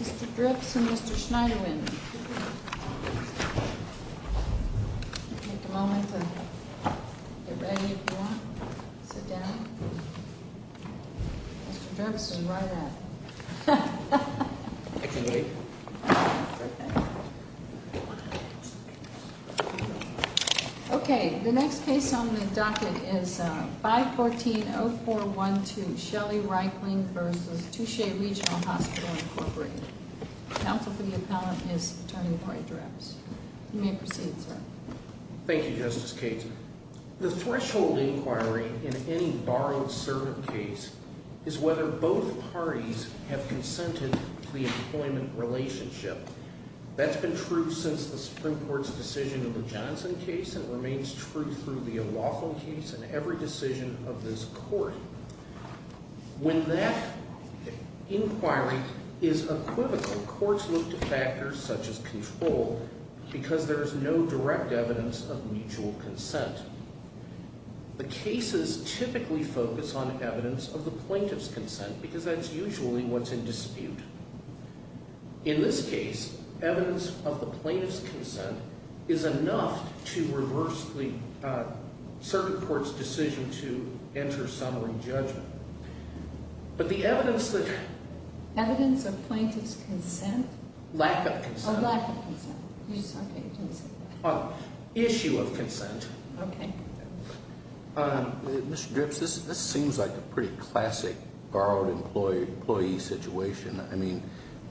Mr. Dripps and Mr. Schneiderwin. Take a moment to get ready if you want. Sit down. Mr. Dripps is right up. Okay, the next case on the docket is 514-0412 Shelley-Reichling v. Touchette Regional Hospital, Inc. Counsel for the appellant is Attorney Boyd Dripps. You may proceed, sir. Thank you, Justice Cates. The threshold inquiry in any borrowed-servant case is whether both parties have consented to the employment relationship. That's been true since the Supreme Court's decision in the Johnson case and remains true through the O'Rourke case and every decision of this Court. When that inquiry is equivocal, courts look to factors such as control because there is no direct evidence of mutual consent. The cases typically focus on evidence of the plaintiff's consent because that's usually what's in dispute. In this case, evidence of the plaintiff's consent is enough to reverse the circuit court's decision to enter summary judgment. But the evidence that… Evidence of plaintiff's consent? Lack of consent. Oh, lack of consent. Issue of consent. Okay. Mr. Dripps, this seems like a pretty classic borrowed-employee situation. I mean,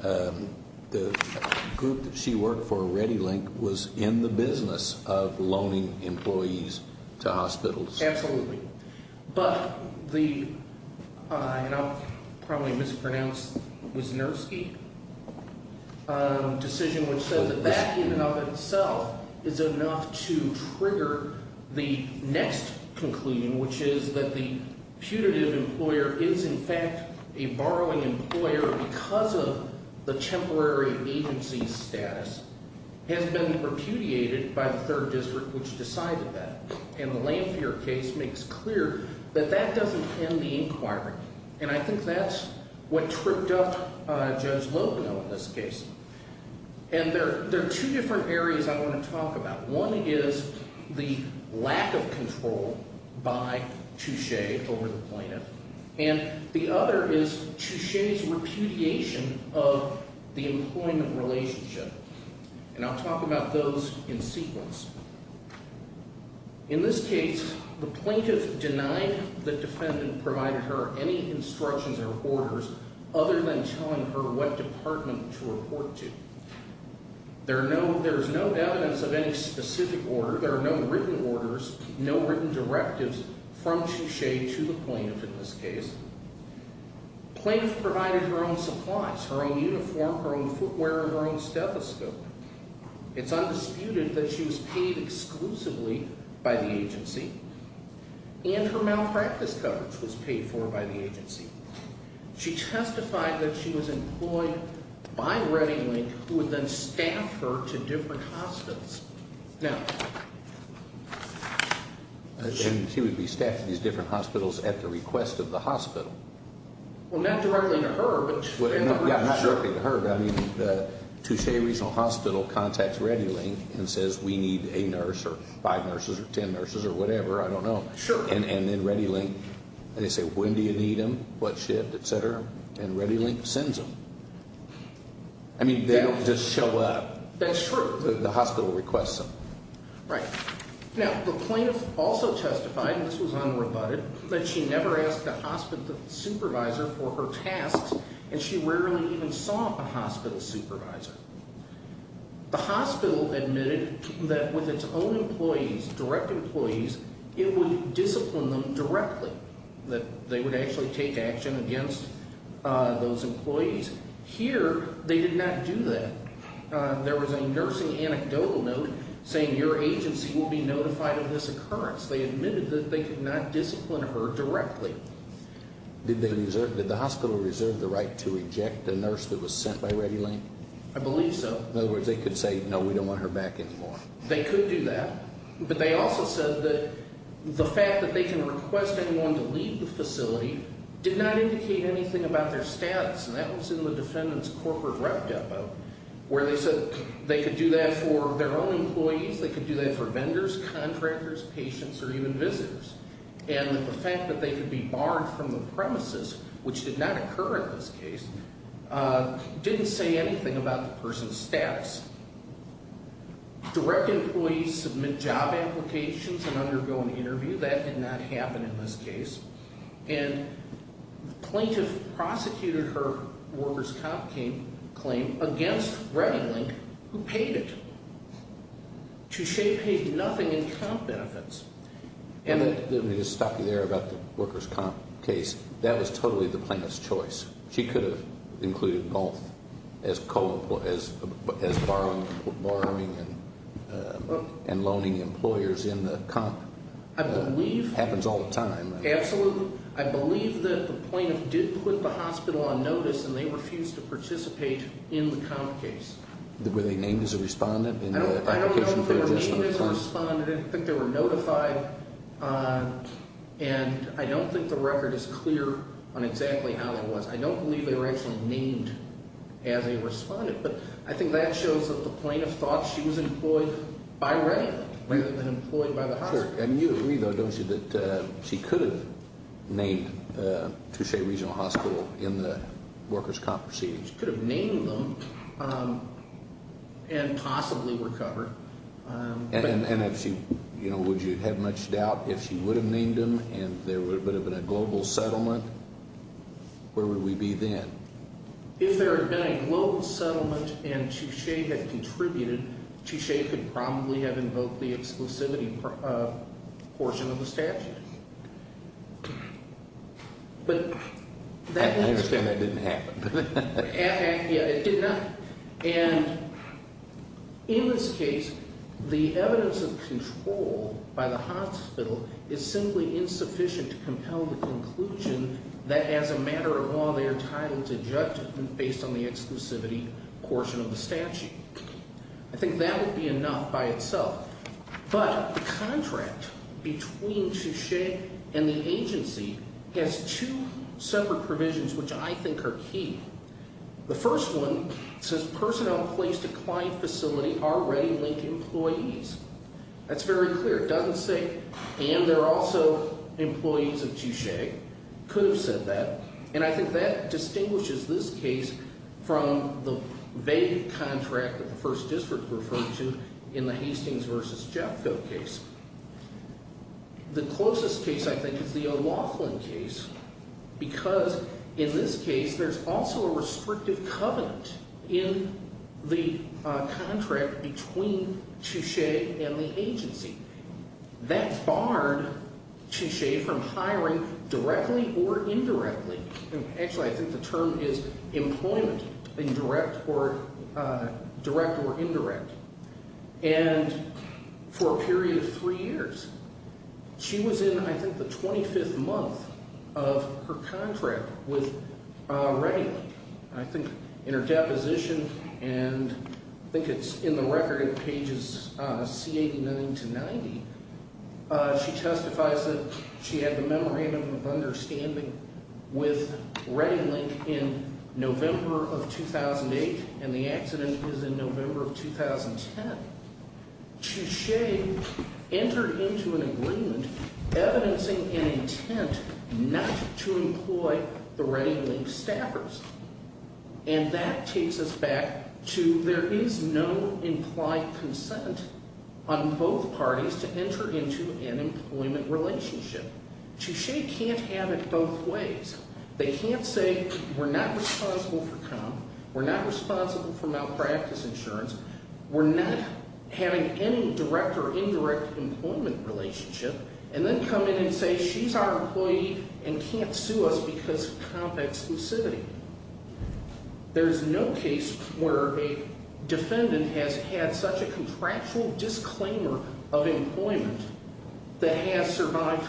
the group that she worked for, ReadyLink, was in the business of loaning employees to hospitals. Absolutely. But the – and I'll probably mispronounce Wisniewski – decision which says that that in and of itself is enough to trigger the next conclusion, which is that the putative employer is, in fact, a borrowing employer because of the temporary agency status, has been repudiated by the Third District, which decided that. And the Lanphier case makes clear that that doesn't end the inquiry, and I think that's what tripped up Judge Loeb in this case. And there are two different areas I want to talk about. One is the lack of control by Touche over the plaintiff, and the other is Touche's repudiation of the employment relationship. And I'll talk about those in sequence. In this case, the plaintiff denied the defendant provided her any instructions or orders other than telling her what department to report to. There's no evidence of any specific order. There are no written orders, no written directives from Touche to the plaintiff in this case. The plaintiff provided her own supplies, her own uniform, her own footwear, her own stethoscope. It's undisputed that she was paid exclusively by the agency, and her malpractice coverage was paid for by the agency. She testified that she was employed by ReadyLink, who would then staff her to different hospitals. Now, she would be staffed at these different hospitals at the request of the hospital. Well, not directly to her, but in the room. Yeah, not directly to her, but I mean, the Touche Regional Hospital contacts ReadyLink and says, we need a nurse or five nurses or ten nurses or whatever, I don't know. Sure. And then ReadyLink, and they say, when do you need them, what shift, et cetera, and ReadyLink sends them. I mean, they don't just show up. That's true. The hospital requests them. Right. Now, the plaintiff also testified, and this was unrebutted, that she never asked the supervisor for her tasks, and she rarely even saw a hospital supervisor. The hospital admitted that with its own employees, direct employees, it would discipline them directly, that they would actually take action against those employees. Here, they did not do that. There was a nursing anecdotal note saying, your agency will be notified of this occurrence. They admitted that they could not discipline her directly. Did the hospital reserve the right to reject a nurse that was sent by ReadyLink? I believe so. In other words, they could say, no, we don't want her back anymore. They could do that, but they also said that the fact that they can request anyone to leave the facility did not indicate anything about their status, and that was in the defendant's corporate rep depo, where they said they could do that for their own employees, they could do that for vendors, contractors, patients, or even visitors, and that the fact that they could be barred from the premises, which did not occur in this case, didn't say anything about the person's status. Direct employees submit job applications and undergo an interview. That did not happen in this case. And the plaintiff prosecuted her workers' comp claim against ReadyLink, who paid it. Touche paid nothing in comp benefits. Let me just stop you there about the workers' comp case. That was totally the plaintiff's choice. She could have included both as borrowing and loaning employers in the comp. It happens all the time. Absolutely. I believe that the plaintiff did put the hospital on notice, and they refused to participate in the comp case. Were they named as a respondent in the application? I don't think they were named as a respondent. I don't think they were notified. And I don't think the record is clear on exactly how that was. I don't believe they were actually named as a respondent. But I think that shows that the plaintiff thought she was employed by ReadyLink rather than employed by the hospital. And you agree, though, don't you, that she could have named Touche Regional Hospital in the workers' comp proceedings? She could have named them and possibly recovered. And would you have much doubt if she would have named them and there would have been a global settlement? Where would we be then? If there had been a global settlement and Touche had contributed, Touche could probably have invoked the exclusivity portion of the statute. I understand that didn't happen. Yeah, it did not. And in this case, the evidence of control by the hospital is simply insufficient to compel the conclusion that as a matter of law, they're entitled to judgment based on the exclusivity portion of the statute. I think that would be enough by itself. But the contract between Touche and the agency has two separate provisions, which I think are key. The first one says personnel placed at client facility are ReadyLink employees. That's very clear. It doesn't say, and they're also employees of Touche. Could have said that. And I think that distinguishes this case from the vague contract that the First District referred to in the Hastings v. Jeffco case. The closest case, I think, is the O'Loughlin case because in this case there's also a restrictive covenant in the contract between Touche and the agency. That barred Touche from hiring directly or indirectly. Actually, I think the term is employment, direct or indirect. And for a period of three years, she was in, I think, the 25th month of her contract with ReadyLink. I think in her deposition, and I think it's in the record in pages C89 to 90, she testifies that she had the memorandum of understanding with ReadyLink in November of 2008, and the accident is in November of 2010. Touche entered into an agreement evidencing an intent not to employ the ReadyLink staffers. And that takes us back to there is no implied consent on both parties to enter into an employment relationship. Touche can't have it both ways. They can't say we're not responsible for comp. We're not responsible for malpractice insurance. We're not having any direct or indirect employment relationship. And then come in and say she's our employee and can't sue us because of comp exclusivity. There's no case where a defendant has had such a contractual disclaimer of employment that has survived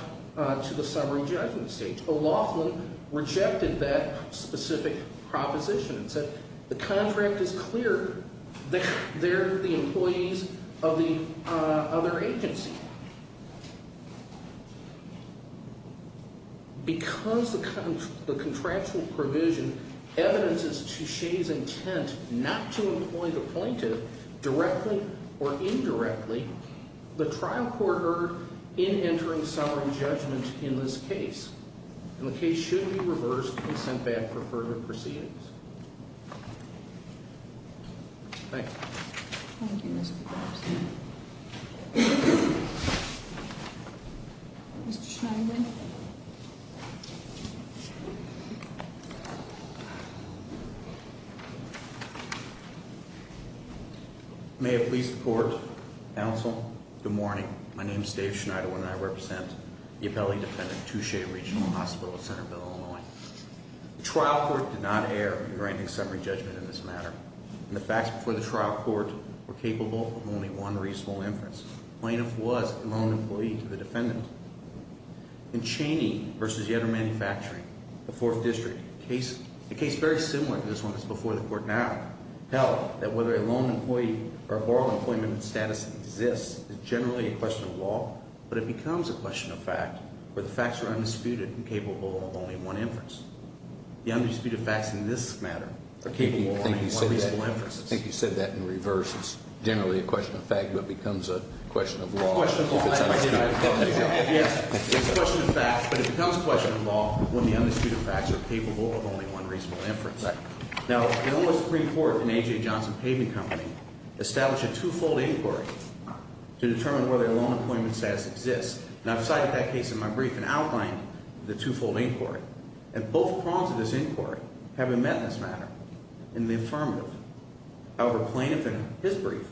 to the summary judgment stage. O'Loughlin rejected that specific proposition and said the contract is clear. They're the employees of the other agency. Because the contractual provision evidences Touche's intent not to employ the plaintiff directly or indirectly, the trial court heard in entering summary judgment in this case. And the case should be reversed and sent back for further proceedings. Thank you. Thank you, Mr. Thompson. Mr. Schneider. May I please report, counsel? Good morning. My name is Dave Schneider and I represent the appellee defendant Touche Regional Hospital at Centerville, Illinois. The trial court did not err in granting summary judgment in this matter. And the facts before the trial court were capable of only one reasonable inference. The plaintiff was a loan employee to the defendant. In Chaney v. Yedder Manufacturing, the fourth district, a case very similar to this one that's before the court now, held that whether a loan employee or a borrower employment status exists is generally a question of law, but it becomes a question of fact where the facts are undisputed and capable of only one inference. The undisputed facts in this matter are capable of only one reasonable inference. I think you said that in reverse. It's generally a question of fact, but becomes a question of law. It's a question of fact, but it becomes a question of law when the undisputed facts are capable of only one reasonable inference. Now, the Illinois Supreme Court and A.J. Johnson Paving Company established a two-fold inquiry to determine whether a loan employment status exists. And I've cited that case in my brief and outlined the two-fold inquiry. And both prongs of this inquiry have been met in this matter in the affirmative. However, plaintiff in his brief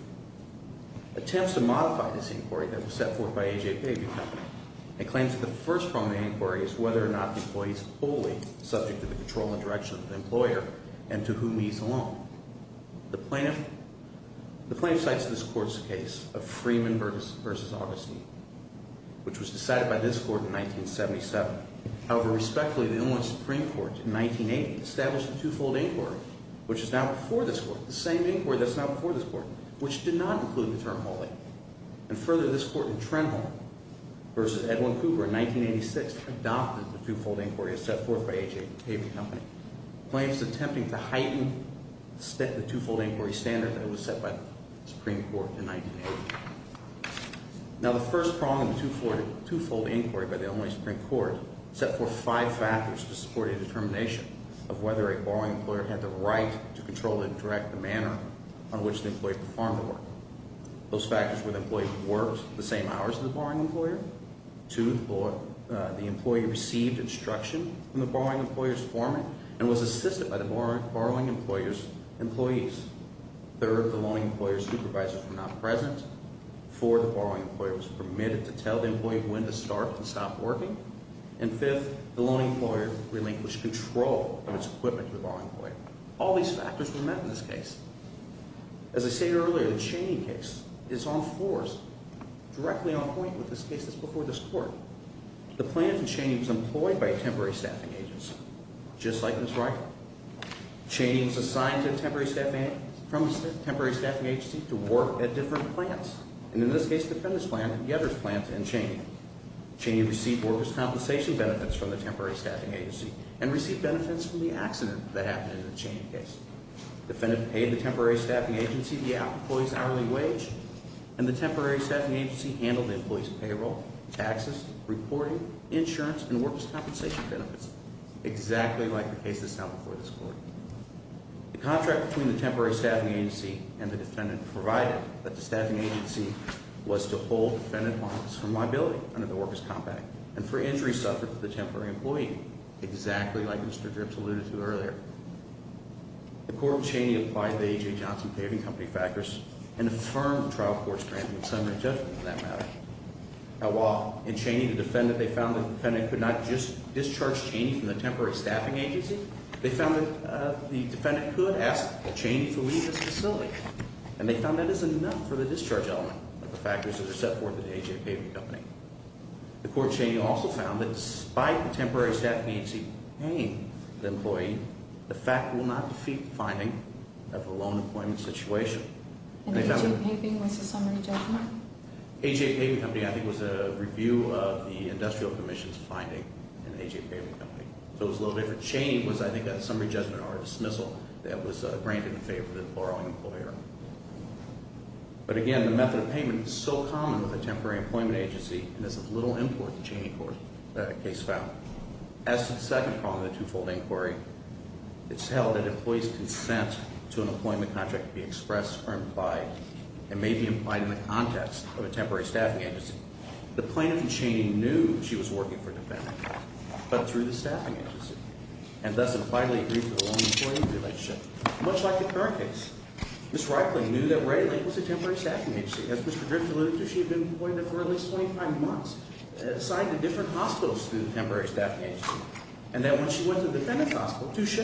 attempts to modify this inquiry that was set forth by A.J. Paving Company and claims that the first prong of the inquiry is whether or not the employee is wholly subject to the control and direction of the employer and to whom he is a loan. The plaintiff cites this court's case of Freeman v. Augustine, which was decided by this court in 1977. However, respectfully, the Illinois Supreme Court in 1980 established a two-fold inquiry, which is now before this court, the same inquiry that's now before this court, which did not include the term wholly. And further, this court in Trenholm v. Edwin Cooper in 1986 adopted the two-fold inquiry as set forth by A.J. Paving Company. The plaintiff is attempting to heighten the two-fold inquiry standard that was set by the Supreme Court in 1980. Now, the first prong of the two-fold inquiry by the Illinois Supreme Court set forth five factors to support a determination of whether a borrowing employer had the right to control and direct the manner on which the employee performed the work. Those factors were the employee worked the same hours as the borrowing employer. Two, the employee received instruction from the borrowing employer's foreman and was assisted by the borrowing employer's employees. Third, the loaning employer's supervisors were not present. Four, the borrowing employer was permitted to tell the employee when to start and stop working. And fifth, the loaning employer relinquished control of its equipment to the borrowing employer. All these factors were met in this case. As I stated earlier, the Chaney case is on fours, directly on point with this case that's before this court. The plaintiff, Chaney, was employed by a temporary staffing agency, just like Ms. Ryker. Chaney was assigned to a temporary staffing agency to work at different plants. And in this case, the appendix plant, the others plant, and Chaney. Chaney received workers' compensation benefits from the temporary staffing agency and received benefits from the accident that happened in the Chaney case. The defendant paid the temporary staffing agency the employee's hourly wage, and the temporary staffing agency handled the employee's payroll, taxes, reporting, insurance, and workers' compensation benefits. Exactly like the case that's now before this court. The contract between the temporary staffing agency and the defendant provided that the staffing agency was to hold the defendant liable under the workers' compact and for injuries suffered to the temporary employee, exactly like Mr. Dripps alluded to earlier. The court of Chaney applied the A.J. Johnson Paving Company factors and affirmed the trial court's grant with summary judgment on that matter. Now while in Chaney the defendant, they found that the defendant could not just discharge Chaney from the temporary staffing agency, they found that the defendant could ask Chaney to leave this facility. And they found that is enough for the discharge element of the factors that are set forth in the A.J. Paving Company. The court of Chaney also found that despite the temporary staffing agency paying the employee, the fact will not defeat the finding of a loan employment situation. And A.J. Paving was a summary judgment? A.J. Paving Company I think was a review of the industrial commission's finding in A.J. Paving Company. So it was a little different. Chaney was I think a summary judgment or a dismissal that was granted in favor of the borrowing employer. But again, the method of payment is so common with a temporary employment agency, and there's little import in Chaney case found. As to the second problem of the two-fold inquiry, it's held that an employee's consent to an employment contract be expressed or implied, and may be implied in the context of a temporary staffing agency. The plaintiff in Chaney knew she was working for a defendant, but through the staffing agency, and thus had finally agreed to a loan employment relationship, much like the current case. Ms. Reikling knew that ReadyLink was a temporary staffing agency. As Mr. Drift alluded to, she had been appointed for at least 25 months, assigned to different hospitals through the temporary staffing agency. And that when she went to the defendant's hospital, Touche,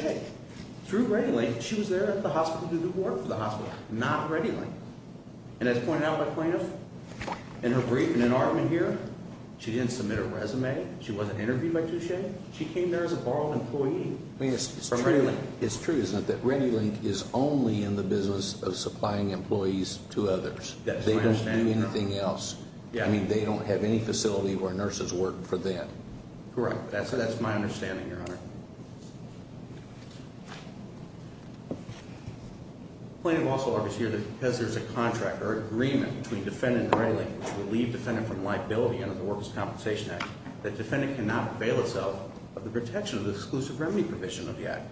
through ReadyLink, she was there at the hospital to do the work for the hospital, not ReadyLink. And as pointed out by plaintiff, in her brief and in argument here, she didn't submit a resume. She wasn't interviewed by Touche. She came there as a borrowed employee from ReadyLink. It's true, isn't it, that ReadyLink is only in the business of supplying employees to others. That's my understanding. They don't do anything else. Yeah. I mean, they don't have any facility where nurses work for them. Correct. That's my understanding, Your Honor. The plaintiff also argues here that because there's a contract or agreement between defendant and ReadyLink to relieve defendant from liability under the Workers' Compensation Act, that defendant cannot avail itself of the protection of the exclusive remedy provision of the act.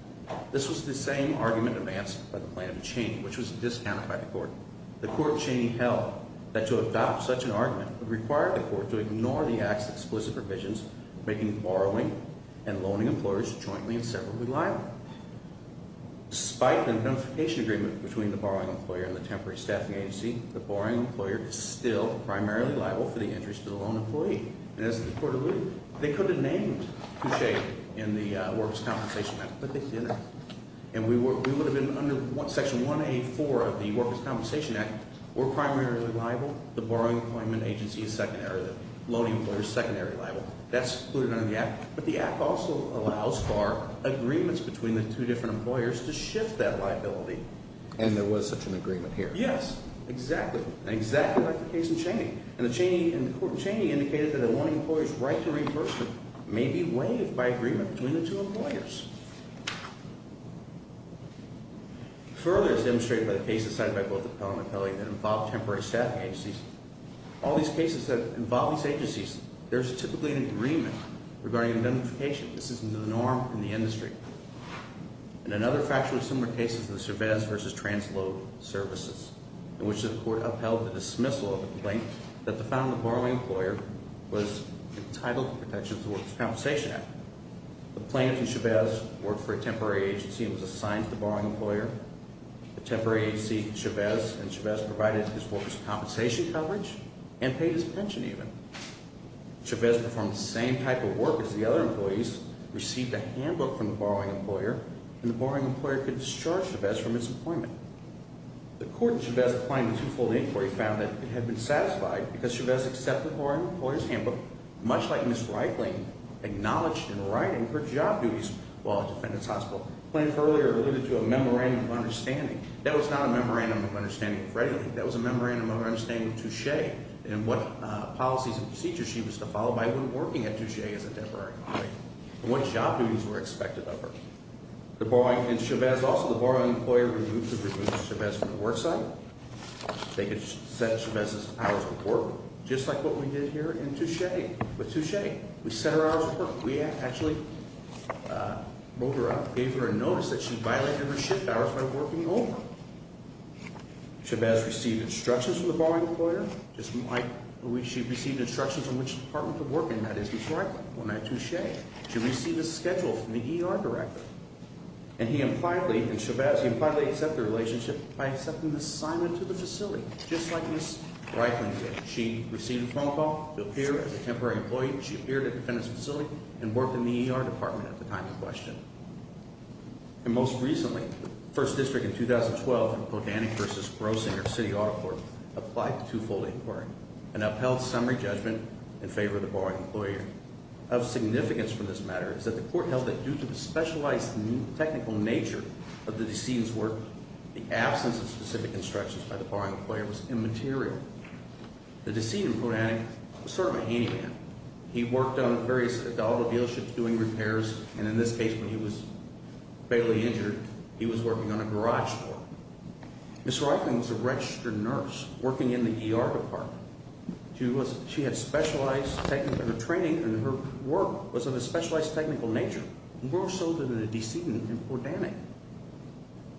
This was the same argument advanced by the plaintiff to Cheney, which was discounted by the court. The court of Cheney held that to adopt such an argument would require the court to ignore the act's explicit provisions, making borrowing and loaning employers jointly and separately liable. Despite the identification agreement between the borrowing employer and the temporary staffing agency, the borrowing employer is still primarily liable for the injuries to the loaned employee. And as the court alluded, they could have named Touche in the Workers' Compensation Act, but they didn't. And we would have been under Section 184 of the Workers' Compensation Act. We're primarily liable. The borrowing employment agency is secondary. The loaning employer is secondary liable. That's included under the act. But the act also allows for agreements between the two different employers to shift that liability. And there was such an agreement here. Yes, exactly. Exactly like the case in Cheney. And the court of Cheney indicated that a loan employer's right to reimbursement may be waived by agreement between the two employers. Further, as demonstrated by the cases cited by both the appellant and the appellee that involve temporary staffing agencies, all these cases that involve these agencies, there's typically an agreement regarding identification. And another factually similar case is the Chavez versus TransLoad services, in which the court upheld the dismissal of a complaint that the found that the borrowing employer was entitled to protections of the Workers' Compensation Act. The plaintiff and Chavez worked for a temporary agency and was assigned to the borrowing employer. The temporary agency, Chavez, and Chavez provided his workers' compensation coverage and paid his pension even. Chavez performed the same type of work as the other employees, received a handbook from the borrowing employer, and the borrowing employer could discharge Chavez from his employment. The court in Chavez applying the twofold inquiry found that it had been satisfied because Chavez accepted the borrowing employer's handbook, much like Ms. Reitling acknowledged in writing her job duties while at Defendant's Hospital. The plaintiff earlier alluded to a memorandum of understanding. That was not a memorandum of understanding of Freddie Lane. I think that was a memorandum of understanding of Touche and what policies and procedures she was to follow by when working at Touche as a temporary employee. And what job duties were expected of her. And Chavez also, the borrowing employer, removed her from the work site. They could set Chavez's hours of work, just like what we did here in Touche. With Touche, we set her hours of work. We actually wrote her up, gave her a notice that she violated her shift hours by working over. Chavez received instructions from the borrowing employer, just like she received instructions on which department to work in, that is, Ms. Reitling. Well, in that Touche, she received a schedule from the ER director. And he impliedly, and Chavez, he impliedly accepted the relationship by accepting the assignment to the facility, just like Ms. Reitling did. She received a phone call to appear as a temporary employee. She appeared at Defendant's facility and worked in the ER department at the time in question. And most recently, the 1st District in 2012 in Podany versus Grossinger City Audit Court applied to two-fold inquiry. An upheld summary judgment in favor of the borrowing employer. Of significance from this matter is that the court held that due to the specialized technical nature of the decedent's work, the absence of specific instructions by the borrowing employer was immaterial. The decedent in Podany was sort of a handyman. He worked on various auto dealerships doing repairs. And in this case, when he was fatally injured, he was working on a garage door. Ms. Reitling was a registered nurse working in the ER department. She had specialized technical training and her work was of a specialized technical nature. More so than the decedent in Podany.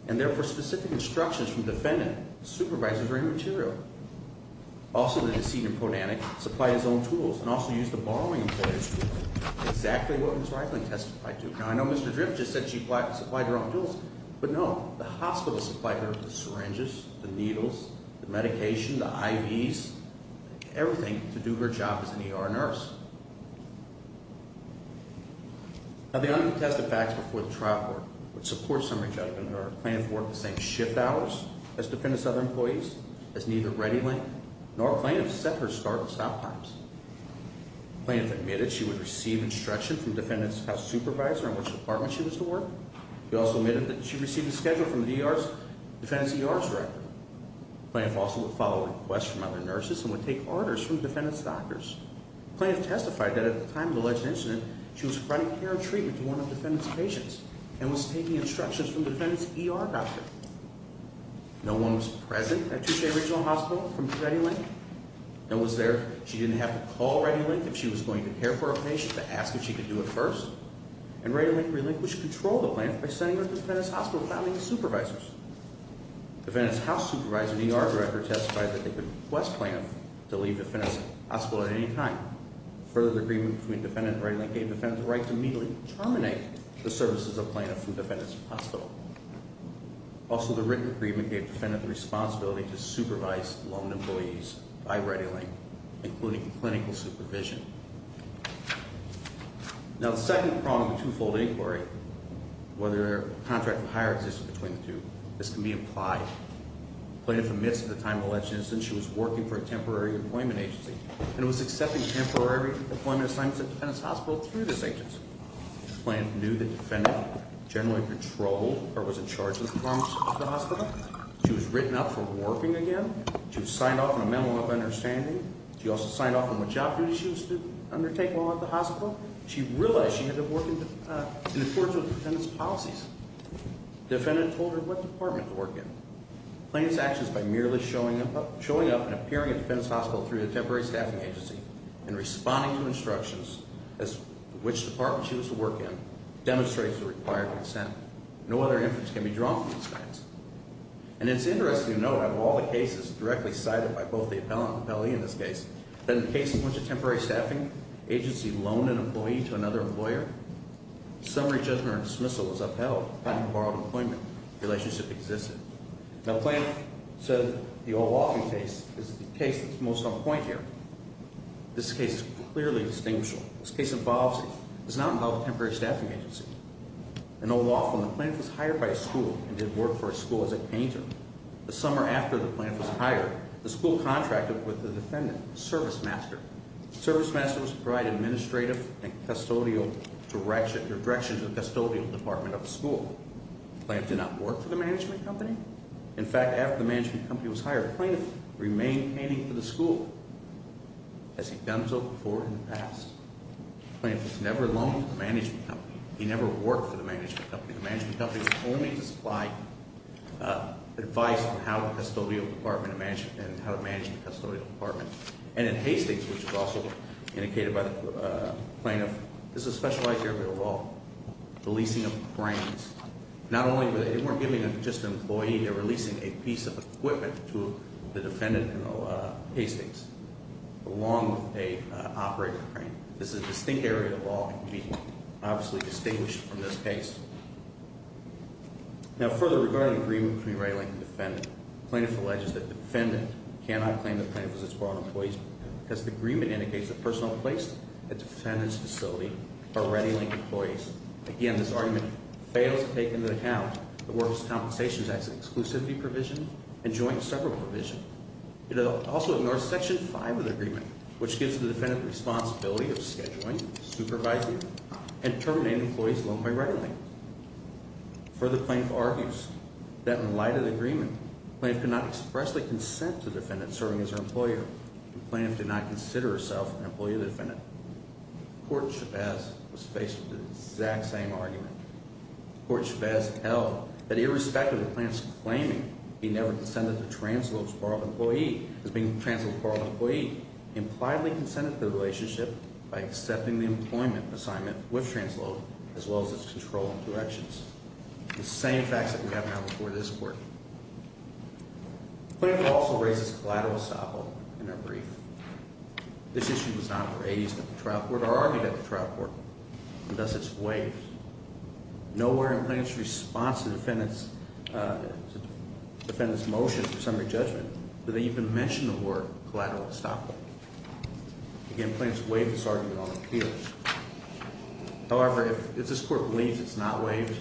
And therefore, specific instructions from Defendant supervisors were immaterial. Also, the decedent in Podany supplied his own tools and also used the borrowing employer's tools. Exactly what Ms. Reitling testified to. Now, I know Mr. Drift just said she supplied her own tools, but no. The hospital supplied her with syringes, the needles, the medication, the IVs, everything to do her job as an ER nurse. Now, the uncontested facts before the trial court would support summary judgment. The plaintiff worked the same shift hours as Defendant's other employees, as neither Reitling nor plaintiff set her start and stop times. The plaintiff admitted she would receive instruction from Defendant's house supervisor in which department she was to work. She also admitted that she received a schedule from the ER's, Defendant's ER director. The plaintiff also would follow requests from other nurses and would take orders from Defendant's doctors. The plaintiff testified that at the time of the alleged incident, she was providing care and treatment to one of Defendant's patients. And was taking instructions from Defendant's ER doctor. No one was present at Touche Regional Hospital from Reitling. No one was there. She didn't have to call Reitling if she was going to care for a patient, to ask if she could do it first. And Reitling relinquished control of the plaintiff by sending her to Defendant's hospital without any supervisors. Defendant's house supervisor and ER director testified that they would request plaintiff to leave Defendant's hospital at any time. Further, the agreement between Defendant and Reitling gave Defendant the right to immediately terminate the services of plaintiff from Defendant's hospital. Also, the written agreement gave Defendant the responsibility to supervise loaned employees by Reitling, including clinical supervision. Now, the second problem with two-fold inquiry, whether a contract of hire existed between the two, this can be implied. Plaintiff admits at the time of the election that she was working for a temporary employment agency. And was accepting temporary employment assignments at Defendant's hospital through this agency. Plaintiff knew that Defendant generally controlled or was in charge of the performance of the hospital. She was written up for working again. She was signed off on a memo of understanding. She also signed off on what job duties she was to undertake while at the hospital. She realized she had to work in accordance with Defendant's policies. Defendant told her what department to work in. Plaintiff's actions by merely showing up and appearing at Defendant's hospital through a temporary staffing agency, and responding to instructions as to which department she was to work in, demonstrates the required consent. No other inference can be drawn from these facts. And it's interesting to note, out of all the cases directly cited by both the appellant and the appellee in this case, that in the case in which a temporary staffing agency loaned an employee to another employer, the summary judgment or dismissal was upheld. Defendant borrowed an appointment. The relationship existed. Now Plaintiff said the O'Rourke case is the case that's most on point here. This case is clearly distinguishable. This case is not about a temporary staffing agency. In O'Rourke, when the plaintiff was hired by a school and did work for a school as a painter, the summer after the plaintiff was hired, the school contracted with the Defendant, a service master. Service masters provide administrative and custodial direction to the custodial department of the school. The plaintiff did not work for the management company. In fact, after the management company was hired, the plaintiff remained painting for the school. Has he done so before in the past? The plaintiff has never loaned to the management company. He never worked for the management company. The management company was only to supply advice on how the custodial department and how to manage the custodial department. And in Hastings, which was also indicated by the plaintiff, this is a specialized area of law, the leasing of cranes. Not only were they giving just an employee, they were leasing a piece of equipment to the Defendant in Hastings along with an operator crane. This is a distinct area of law and can be obviously distinguished from this case. Now, further regarding agreement between ready-linked and Defendant, the plaintiff alleges that Defendant cannot claim the plaintiff as its borrowed employees because the agreement indicates the personal place at Defendant's facility are ready-linked employees. Again, this argument fails to take into account the Works Compensation Act's exclusivity provision and joint separate provision. It also ignores Section 5 of the agreement, which gives the Defendant the responsibility of scheduling, supervising, and terminating employees loaned by ready-linked. Further, the plaintiff argues that in light of the agreement, the plaintiff cannot expressly consent to the Defendant serving as her employer. The plaintiff did not consider herself an employee of the Defendant. Court Shabazz was faced with the exact same argument. Court Shabazz held that irrespective of the plaintiff's claiming, he never consented to the transfer of his borrowed employee. He impliedly consented to the relationship by accepting the employment assignment with transload, as well as its control and corrections. The same facts that we have now before this Court. The plaintiff also raises collateral estoppel in her brief. This issue was not raised at the trial court or argued at the trial court, and thus it's waived. Nowhere in the plaintiff's response to the Defendant's motion for summary judgment did they even mention the word collateral estoppel. Again, the plaintiff waived this argument on appeal. However, if this Court believes it's not waived,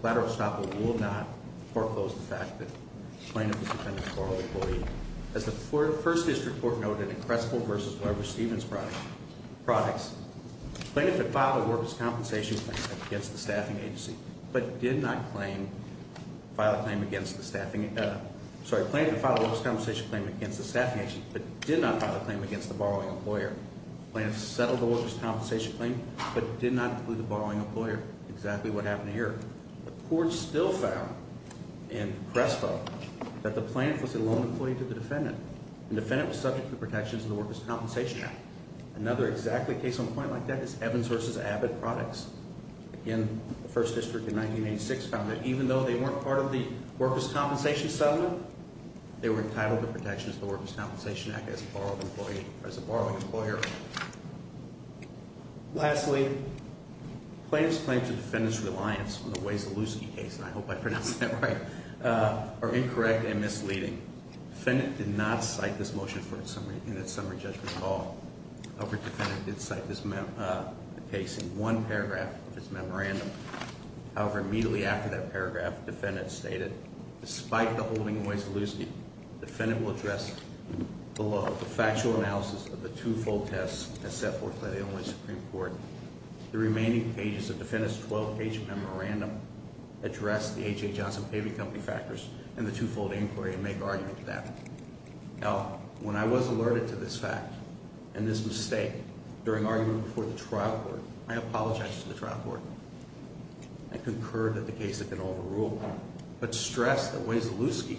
collateral estoppel will not foreclose the fact that the plaintiff is the Defendant's borrowed employee. As the First District Court noted in Crespo v. Weber-Stevens products, the plaintiff had filed a workers' compensation claim against the staffing agency, but did not file a claim against the borrowing employer. The plaintiff settled the workers' compensation claim, but did not include the borrowing employer. Exactly what happened here. The Court still found in Crespo that the plaintiff was a lone employee to the Defendant. The Defendant was subject to the protections of the Workers' Compensation Act. Another exactly case on a point like that is Evans v. Abbott products. Again, the First District in 1986 found that even though they weren't part of the Workers' Compensation settlement, they were entitled to protections of the Workers' Compensation Act as a borrowing employer. Lastly, the plaintiff's claim to the Defendant's reliance on the Weisselowski case, and I hope I pronounced that right, are incorrect and misleading. The Defendant did not cite this motion in its summary judgment call. However, the Defendant did cite this case in one paragraph of his memorandum. However, immediately after that paragraph, the Defendant stated, Despite the holding of Weisselowski, the Defendant will address below the factual analysis of the two-fold tests as set forth by the Illinois Supreme Court. The remaining pages of the Defendant's 12-page memorandum address the H.A. Johnson Paving Company factors and the two-fold inquiry and make argument to that. Now, when I was alerted to this fact and this mistake during argument before the trial court, I apologized to the trial court. I concurred that the case had been overruled, but stressed that Weisselowski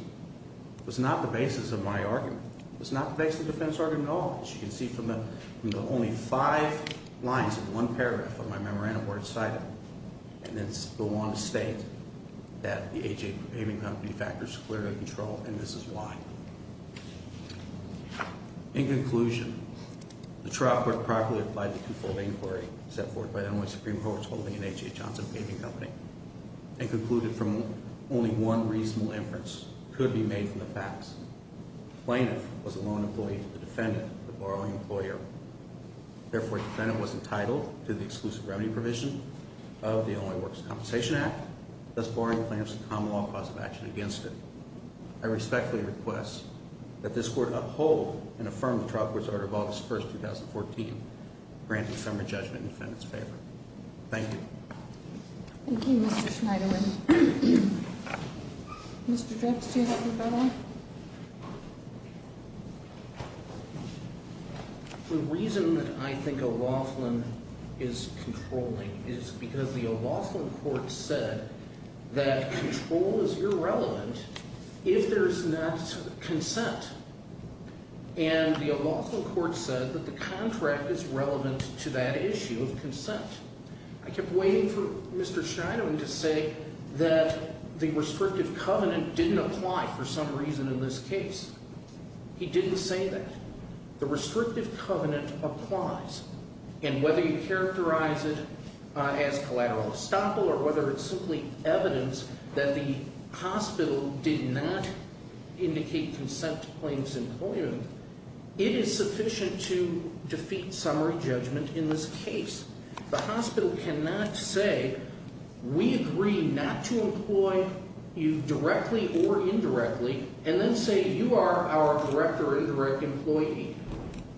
was not the basis of my argument. It was not the basis of the defense argument at all. As you can see from the only five lines in one paragraph of my memorandum where it's cited, and it's the one to state that the H.A. Paving Company factors were clearly controlled, and this is why. In conclusion, the trial court properly applied the two-fold inquiry set forth by the Illinois Supreme Court's holding in H.A. Johnson Paving Company and concluded from only one reasonable inference could be made from the facts. The Plaintiff was a lone employee of the Defendant, the borrowing employer. Therefore, the Defendant was entitled to the exclusive remedy provision of the Illinois Works Compensation Act, thus barring the Plaintiff's common-law cause of action against it. I respectfully request that this Court uphold and affirm the trial court's order of August 1, 2014, granting summary judgment in the Defendant's favor. Thank you. Thank you, Mr. Schneiderlin. Mr. Drex, do you have a comment? The reason that I think O'Roughlin is controlling is because the O'Roughlin court said that control is irrelevant if there is not consent, and the O'Roughlin court said that the contract is relevant to that issue of consent. I kept waiting for Mr. Schneiderlin to say that the restrictive covenant didn't apply for some reason in this case. He didn't say that. The restrictive covenant applies, and whether you characterize it as collateral estoppel or whether it's simply evidence that the hospital did not indicate consent to plaintiff's employment, it is sufficient to defeat summary judgment in this case. The hospital cannot say, we agree not to employ you directly or indirectly, and then say you are our direct or indirect employee.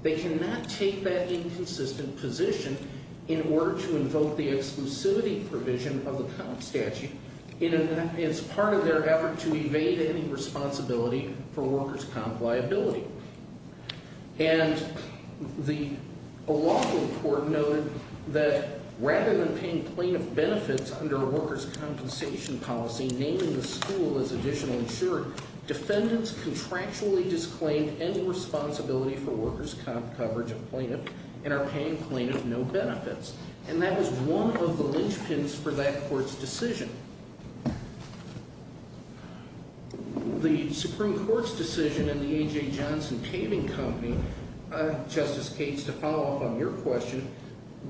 They cannot take that inconsistent position in order to invoke the exclusivity provision of the COMP statute. It's part of their effort to evade any responsibility for workers' COMP liability. And the O'Roughlin court noted that rather than paying plaintiff benefits under a workers' compensation policy, naming the school as additional insurer, defendants contractually disclaimed any responsibility for workers' COMP coverage of plaintiff and are paying plaintiff no benefits. And that was one of the linchpins for that court's decision. The Supreme Court's decision in the A.J. Johnson Caving Company, Justice Cates, to follow up on your question,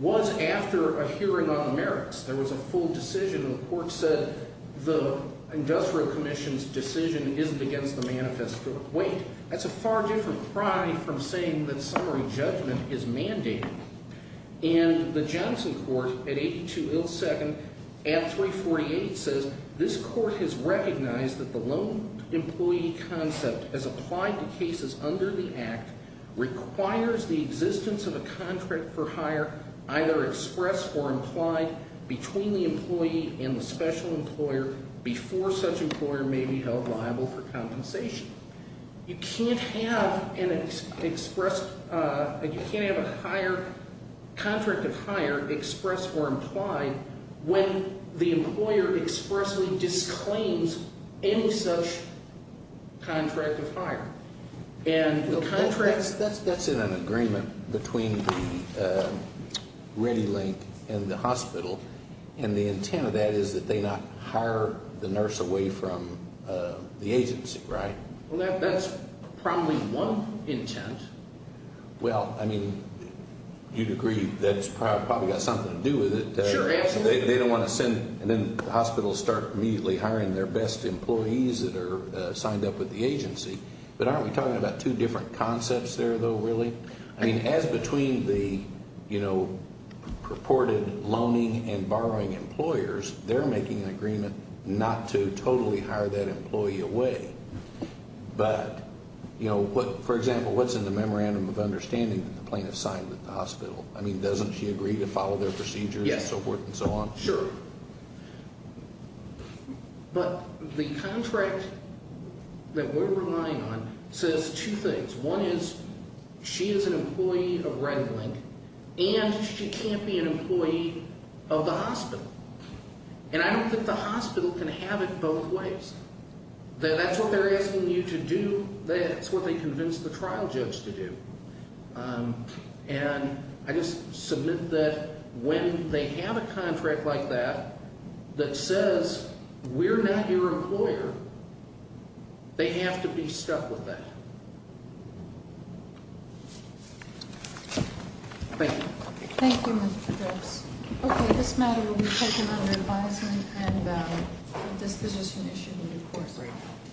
was after a hearing on the merits. There was a full decision, and the court said the industrial commission's decision isn't against the manifesto. Wait, that's a far different pride from saying that summary judgment is mandated. And the Johnson court, at 82 ill second, at 348 says, this court has recognized that the loan employee concept as applied to cases under the act requires the existence of a contract for hire, either expressed or implied, between the employee and the special employer before such employer may be held liable for compensation. You can't have an expressed, you can't have a contract of hire expressed or implied when the employer expressly disclaims any such contract of hire. That's in an agreement between the ReadyLink and the hospital, and the intent of that is that they not hire the nurse away from the agency, right? Well, that's probably one intent. Well, I mean, you'd agree that's probably got something to do with it. Sure, absolutely. They don't want to send, and then the hospital will start immediately hiring their best employees that are signed up with the agency. But aren't we talking about two different concepts there, though, really? I mean, as between the purported loaning and borrowing employers, they're making an agreement not to totally hire that employee away. But, you know, for example, what's in the memorandum of understanding that the plaintiff signed with the hospital? I mean, doesn't she agree to follow their procedures and so forth and so on? Yes, sure. But the contract that we're relying on says two things. One is she is an employee of ReadyLink, and she can't be an employee of the hospital. And I don't think the hospital can have it both ways. That's what they're asking you to do. That's what they convinced the trial judge to do. And I just submit that when they have a contract like that that says we're not your employer, they have to be stuck with that. Thank you. Thank you, Mr. Gibbs. Okay, this matter will be taken under advisement, and this position issued in due course right now.